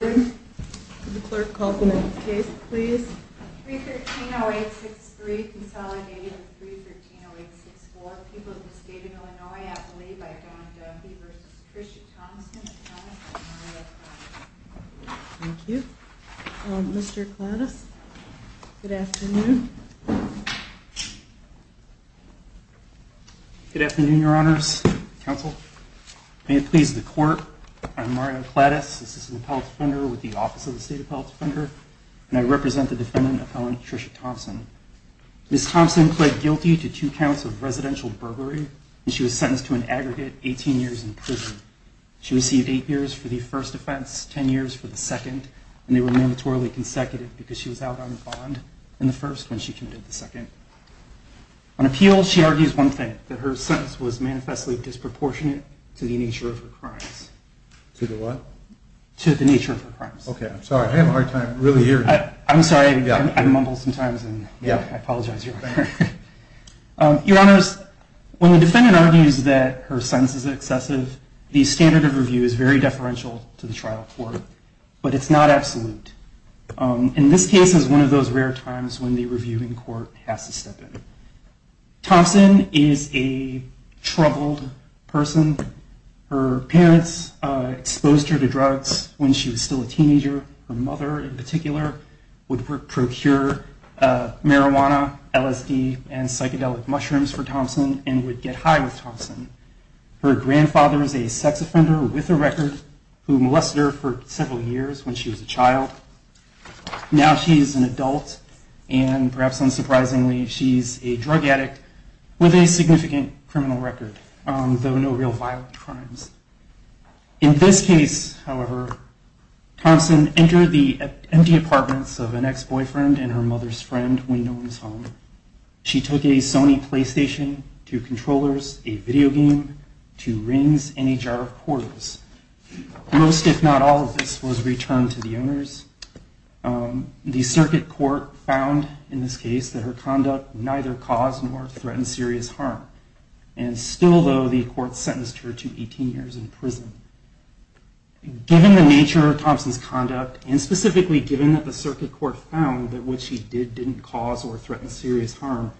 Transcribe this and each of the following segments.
313-0863, consolidated with 313-0864, people of the state of Illinois, Appalachia, Don Duffy v. Tricia Thompson, Thomas and Mario Clattis. Thank you. Mr. Clattis, good afternoon. Good afternoon, your honors, counsel. May it please the court, I'm Mario Clattis, assistant appellate defender with the Office of the State Appellate Defender, and I represent the defendant of felon Tricia Thompson. Ms. Thompson pled guilty to two counts of residential burglary, and she was sentenced to an aggregate 18 years in prison. She received eight years for the first offense, ten years for the second, and they were mandatorily consecutive because she was out on the bond in the first when she committed the second. On appeal, she argues one thing, that her sentence was manifestly disproportionate to the nature of her crimes. To the what? To the nature of her crimes. Okay, I'm sorry, I'm having a hard time really hearing that. I'm sorry, I mumble sometimes, and I apologize. Your honors, when the defendant argues that her sentence is excessive, the standard of review is very deferential to the trial court, but it's not absolute. And this case is one of those rare times when the reviewing court has to step in. Thompson is a troubled person. Her parents exposed her to drugs when she was still a teenager. Her mother, in particular, would procure marijuana, LSD, and psychedelic mushrooms for Thompson and would get high with Thompson. Her grandfather is a sex offender with a record who molested her for several years when she was a child. Now she's an adult, and perhaps unsurprisingly, she's a drug addict with a significant criminal record, though no real violent crimes. In this case, however, Thompson entered the empty apartments of an ex-boyfriend and her mother's friend when no one was home. She took a Sony PlayStation, two controllers, a video game, two rings, and a jar of portals. Most, if not all, of this was returned to the owners. The circuit court found in this case that her conduct neither caused nor threatened serious harm. And still, though, the court sentenced her to 18 years in prison. Given the nature of Thompson's conduct, and specifically given that the circuit court found that what she did didn't cause or threaten serious harm,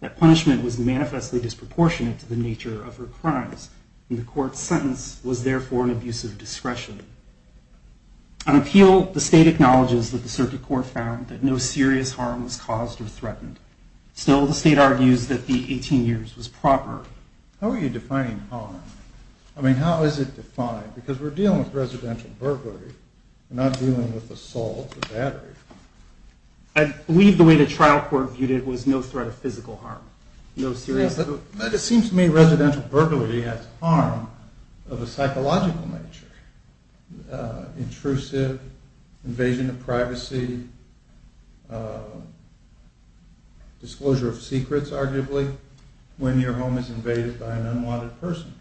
that punishment was manifestly disproportionate to the nature of her crimes. And the court's sentence was, therefore, an abuse of discretion. On appeal, the state acknowledges that the circuit court found that no serious harm was caused or threatened. Still, the state argues that the 18 years was proper. How are you defining harm? I mean, how is it defined? Because we're dealing with residential burglary, not dealing with assault or battery. I believe the way the trial court viewed it was no threat of physical harm, no serious harm. But it seems to me residential burglary has harm of a psychological nature. Intrusive, invasion of privacy, disclosure of secrets, arguably, when your home is invaded by an unwanted person.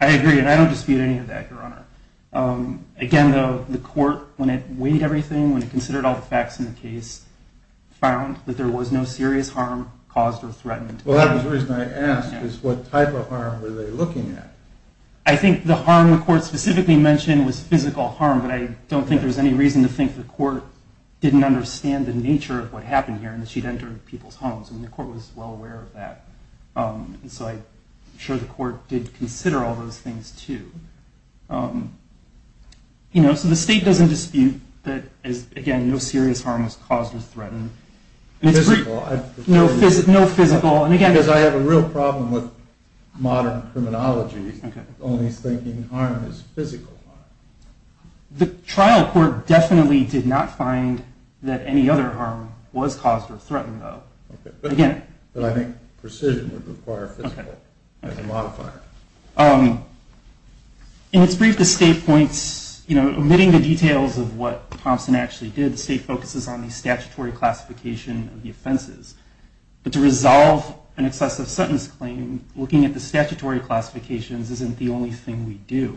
I agree, and I don't dispute any of that, Your Honor. Again, though, the court, when it weighed everything, when it considered all the facts in the case, found that there was no serious harm caused or threatened. Well, that was the reason I asked, is what type of harm were they looking at? I think the harm the court specifically mentioned was physical harm, but I don't think there's any reason to think the court didn't understand the nature of what happened here and that she'd entered people's homes, and the court was well aware of that. And so I'm sure the court did consider all those things, too. You know, so the state doesn't dispute that, again, no serious harm was caused or threatened. Physical. No physical. Because I have a real problem with modern criminology, only thinking harm is physical harm. The trial court definitely did not find that any other harm was caused or threatened, though. But I think precision would require physical as a modifier. In its brief, the state points, you know, omitting the details of what Thompson actually did, the state focuses on the statutory classification of the offenses. But to resolve an excessive sentence claim, looking at the statutory classifications isn't the only thing we do.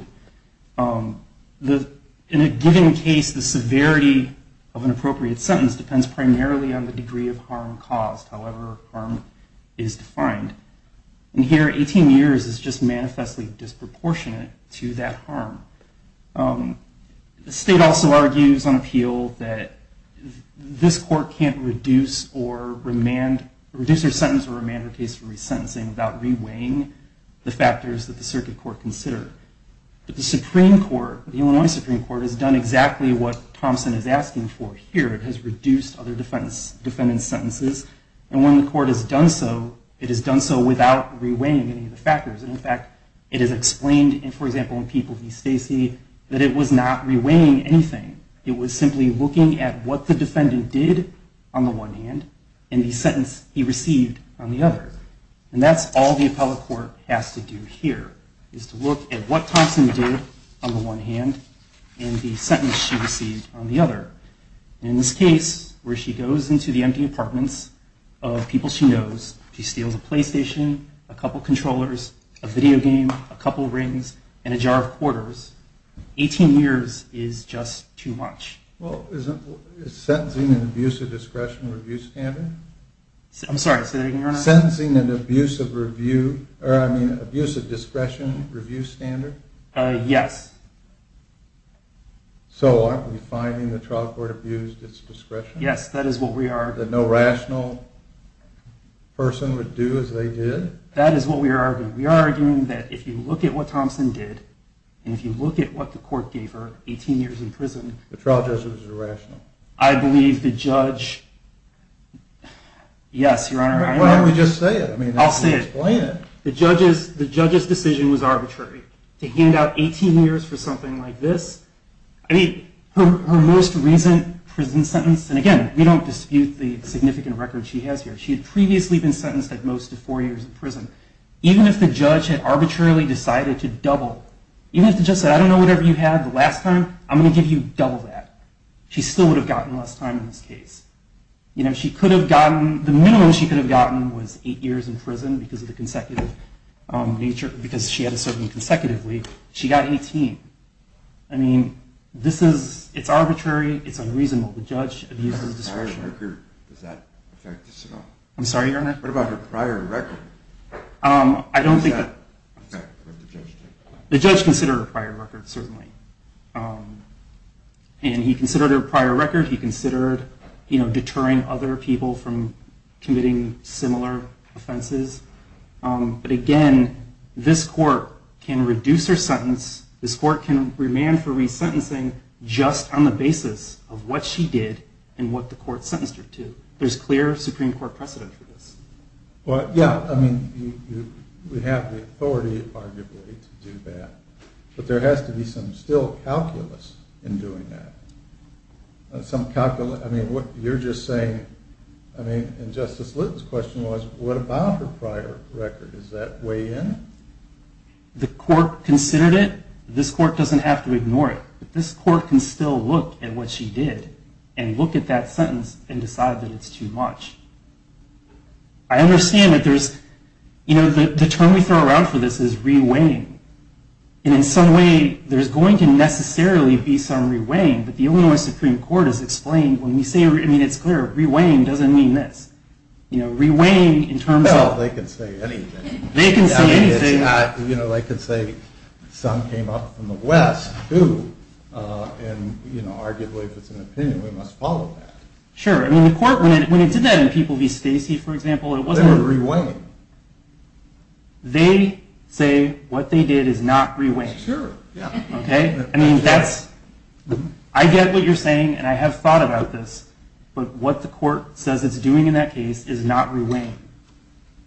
In a given case, the severity of an appropriate sentence depends primarily on the degree of harm caused, however harm is defined. And here, 18 years is just manifestly disproportionate to that harm. The state also argues on appeal that this court can't reduce or remand, reduce their sentence or remand their case for resentencing without reweighing the factors that the circuit court considered. But the Supreme Court, the Illinois Supreme Court, has done exactly what Thompson is asking for here. It has reduced other defendant's sentences. And when the court has done so, it has done so without reweighing any of the factors. And in fact, it is explained, for example, in People v. Stacey, that it was not reweighing anything. It was simply looking at what the defendant did on the one hand and the sentence he received on the other. And that's all the appellate court has to do here, is to look at what Thompson did on the one hand and the sentence she received on the other. And in this case, where she goes into the empty apartments of people she knows, she steals a PlayStation, a couple controllers, a video game, a couple rings, and a jar of quarters, 18 years is just too much. Well, isn't sentencing an abuse of discretion review standard? I'm sorry, say that again, Your Honor. Sentencing an abuse of review, or I mean abuse of discretion review standard? Yes. So aren't we finding the trial court abused its discretion? Yes, that is what we are. That no rational person would do as they did? That is what we are arguing. We are arguing that if you look at what Thompson did, and if you look at what the court gave her, 18 years in prison. The trial judge was irrational. I believe the judge, yes, Your Honor. Why don't we just say it? I'll say it. Explain it. The judge's decision was arbitrary. To hand out 18 years for something like this? I mean, her most recent prison sentence, and again, we don't dispute the significant record she has here. She had previously been sentenced at most to four years in prison. Even if the judge had arbitrarily decided to double, even if the judge said, I don't know whatever you had the last time, I'm going to give you double that. She still would have gotten less time in this case. You know, she could have gotten, the minimum she could have gotten was eight years in prison because of the consecutive nature, because she had to serve him consecutively. She got 18. I mean, this is, it's arbitrary, it's unreasonable. The judge abused his discretion. Does that affect this at all? I'm sorry, Your Honor? What about her prior record? I don't think that. How does that affect what the judge did? The judge considered her prior record, certainly. And he considered her prior record, he considered, you know, deterring other people from committing similar offenses. But again, this court can reduce her sentence. This court can remand for resentencing just on the basis of what she did and what the court sentenced her to. There's clear Supreme Court precedent for this. Well, yeah, I mean, we have the authority, arguably, to do that. But there has to be some still calculus in doing that. Some calculus, I mean, what you're just saying, I mean, and Justice Litton's question was, what about her prior record? Does that weigh in? The court considered it. This court doesn't have to ignore it. But this court can still look at what she did and look at that sentence and decide that it's too much. I understand that there's, you know, the term we throw around for this is reweighing. And in some way, there's going to necessarily be some reweighing, but the Illinois Supreme Court has explained when we say, I mean, it's clear, reweighing doesn't mean this. You know, reweighing in terms of. Well, they can say anything. They can say anything. I mean, it's not, you know, they can say, some came up from the West, who? And, you know, arguably, if it's an opinion, we must follow that. Sure. I mean, the court, when it did that in people v. Stacy, for example, it wasn't. They were reweighing. They say what they did is not reweighing. Sure, yeah. Okay? I mean, that's. I get what you're saying, and I have thought about this. But what the court says it's doing in that case is not reweighing.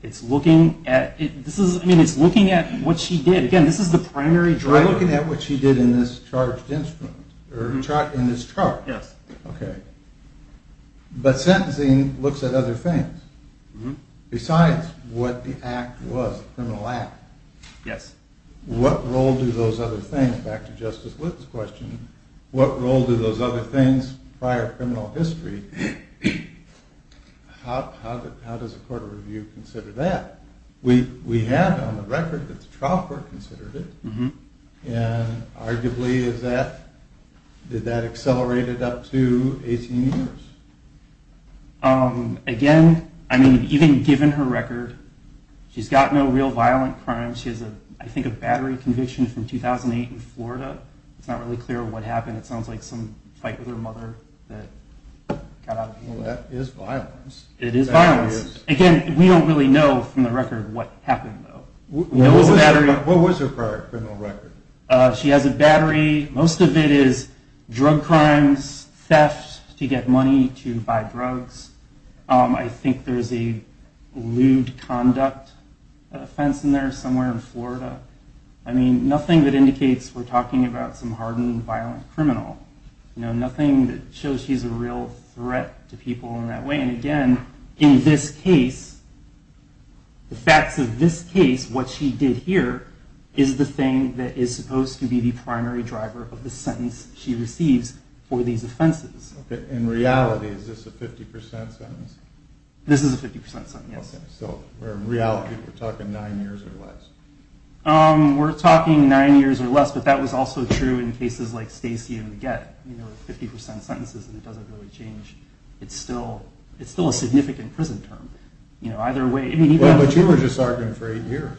It's looking at, this is, I mean, it's looking at what she did. Again, this is the primary driver. By looking at what she did in this charged instrument, or in this charge. Yes. Okay. But sentencing looks at other things besides what the act was, the criminal act. Yes. What role do those other things, back to Justice Whitman's question, what role do those other things, prior criminal history, how does the court of review consider that? We have on the record that the trial court considered it. And arguably, is that, did that accelerate it up to 18 years? Again, I mean, even given her record, she's got no real violent crimes. She has, I think, a battery conviction from 2008 in Florida. It's not really clear what happened. It sounds like some fight with her mother that got out of hand. Well, that is violence. It is violence. Again, we don't really know from the record what happened, though. What was her criminal record? She has a battery. Most of it is drug crimes, theft to get money to buy drugs. I think there's a lewd conduct offense in there somewhere in Florida. Nothing that indicates we're talking about some hardened violent criminal. Nothing that shows she's a real threat to people in that way. And, again, in this case, the facts of this case, what she did here, is the thing that is supposed to be the primary driver of the sentence she receives for these offenses. In reality, is this a 50% sentence? This is a 50% sentence, yes. So, in reality, we're talking nine years or less. We're talking nine years or less, but that was also true in cases like Stacy and the get, where it's 50% sentences and it doesn't really change. It's still a significant prison term. But you were just arguing for eight years.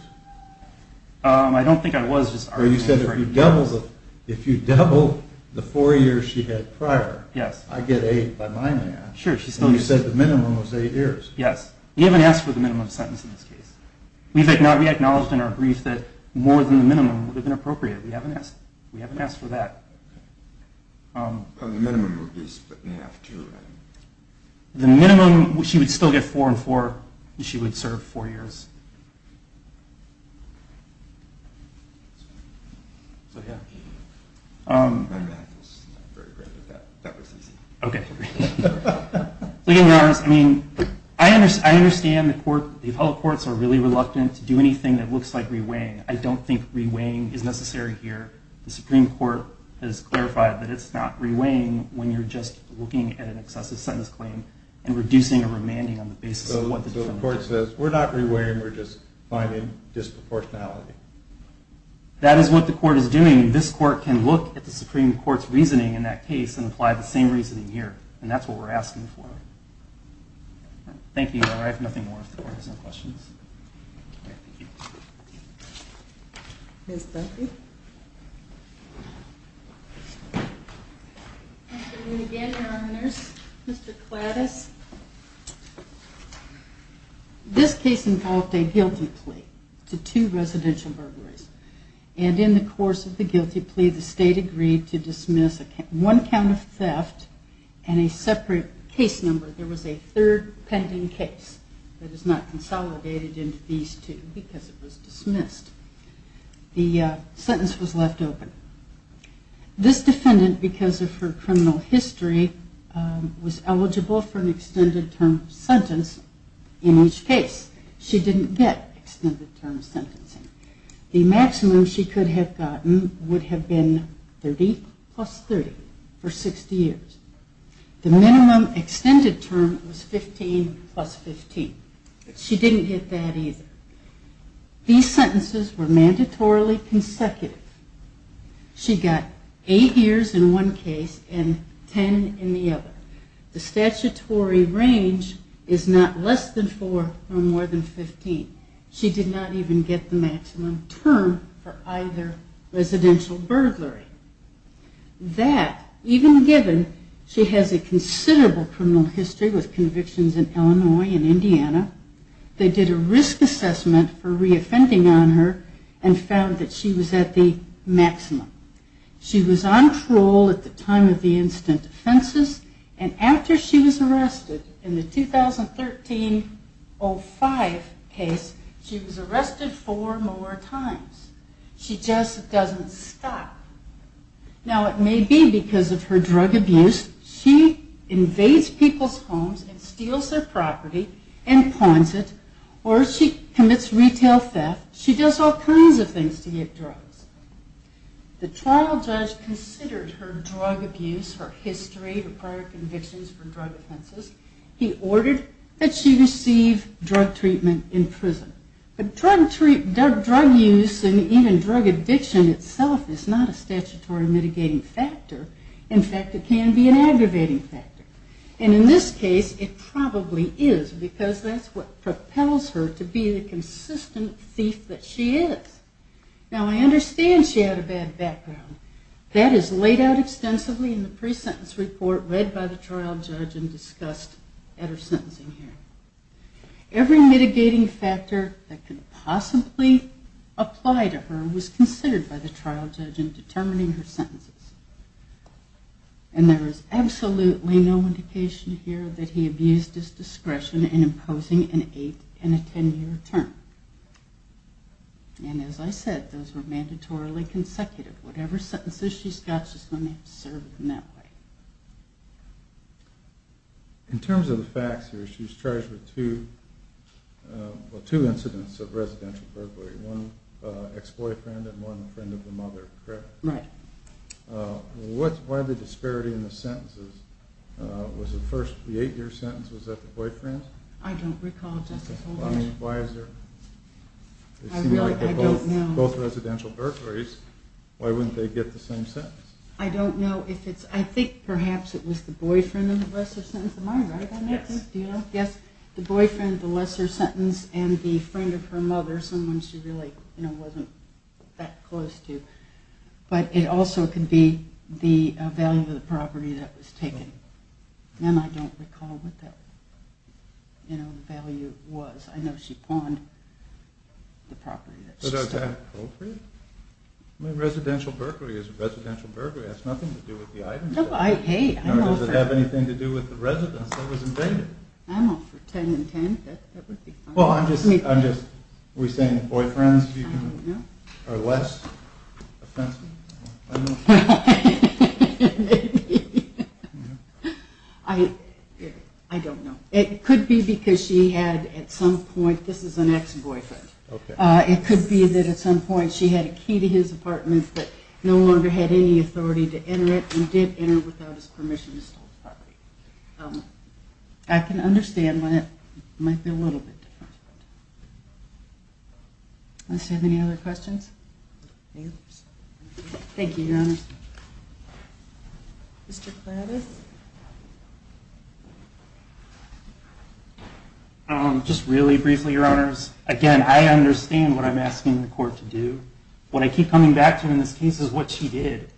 I don't think I was just arguing for eight years. You said if you double the four years she had prior, I get eight by my math. And you said the minimum was eight years. Yes. We haven't asked for the minimum sentence in this case. We acknowledged in our brief that more than the minimum would have been appropriate. We haven't asked for that. The minimum would be split in half, too. The minimum, she would still get four and four. She would serve four years. So, yeah. My math is not very great, but that was easy. Okay. I mean, I understand the court, the appellate courts are really reluctant to do anything that looks like reweighing. I don't think reweighing is necessary here. The Supreme Court has clarified that it's not reweighing when you're just looking at an excessive sentence claim and reducing a remanding on the basis of what the defendant says. So the court says we're not reweighing, we're just finding disproportionality. That is what the court is doing. This court can look at the Supreme Court's reasoning in that case and apply the same reasoning here, and that's what we're asking for. Thank you. I have nothing more if the court has any questions. Okay. Thank you. Ms. Duffy. Good afternoon again, Your Honors. Mr. Kladdis. This case involved a guilty plea to two residential burglaries, and in the course of the guilty plea, the State agreed to dismiss one count of theft and a separate case number. There was a third pending case that is not consolidated into these two because it was dismissed. The sentence was left open. This defendant, because of her criminal history, was eligible for an extended term sentence in each case. She didn't get extended term sentencing. The maximum she could have gotten would have been 30 plus 30 for 60 years. The minimum extended term was 15 plus 15, but she didn't get that either. These sentences were mandatorily consecutive. She got eight years in one case and 10 in the other. The statutory range is not less than four or more than 15. She did not even get the maximum term for either residential burglary. That, even given she has a considerable criminal history with convictions in Illinois and Indiana, they did a risk assessment for reoffending on her and found that she was at the maximum. She was on parole at the time of the incident offenses, and after she was arrested in the 2013-05 case, she was arrested four more times. She just doesn't stop. Now, it may be because of her drug abuse. She invades people's homes and steals their property and pawns it, or she commits retail theft. She does all kinds of things to get drugs. The trial judge considered her drug abuse, her history, her prior convictions for drug offenses. He ordered that she receive drug treatment in prison. But drug use and even drug addiction itself is not a statutory mitigating factor. In fact, it can be an aggravating factor. And in this case, it probably is because that's what propels her to be the consistent thief that she is. Now, I understand she had a bad background. That is laid out extensively in the pre-sentence report read by the trial judge and discussed at her sentencing hearing. Every mitigating factor that could possibly apply to her was considered by the trial judge in determining her sentences. And there is absolutely no indication here that he abused his discretion in imposing an 8- and a 10-year term. And as I said, those were mandatorily consecutive. Whatever sentences she's got, she's going to have to serve them that way. In terms of the facts here, she's charged with two incidents of residential burglary, one ex-boyfriend and one friend of the mother, correct? Right. What are the disparities in the sentences? Was the first, the 8-year sentence, was that the boyfriend's? I don't recall, Justice Holder. I mean, they seem like they're both residential burglaries. Why wouldn't they get the same sentence? I don't know. I think perhaps it was the boyfriend in the lesser sentence of mine, right? Yes. Do you know? Yes. The boyfriend in the lesser sentence and the friend of her mother, someone she really wasn't that close to. But it also could be the value of the property that was taken. And I don't recall what that value was. I know she pawned the property that she stole. But is that appropriate? I mean, residential burglary is a residential burglary. That's nothing to do with the items. Hey, I'm all for that. Does it have anything to do with the residence that was invaded? I'm all for 10 and 10. That would be fine. Well, I'm just, are we saying the boyfriend's are less offensive? I don't know. Maybe. I don't know. It could be because she had at some point, this is an ex-boyfriend. It could be that at some point she had a key to his apartment but no longer had any authority to enter it and did enter without his permission to steal the property. I can understand why that might be a little bit different. Let's see, any other questions? Thank you, Your Honor. Mr. Kladdis? Just really briefly, Your Honors. Again, I understand what I'm asking the court to do. What I keep coming back to in this case is what she did.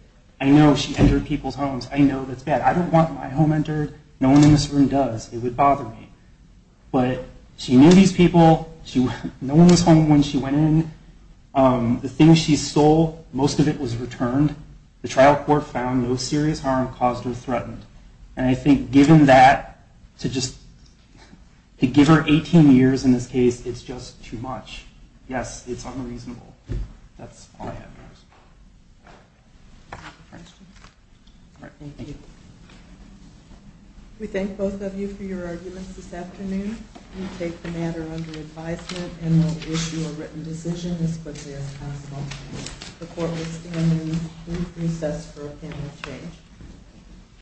I know she entered people's homes. I know that's bad. I don't want my home entered. No one in this room does. It would bother me. But she knew these people. No one was home when she went in. The things she stole, most of it was returned. The trial court found no serious harm caused or threatened. And I think given that, to just give her 18 years in this case, it's just too much. Yes, it's unreasonable. That's all I have. We thank both of you for your arguments this afternoon. We take the matter under advisement and will issue a written decision as quickly as possible. The court will stand in recess for a panel of change.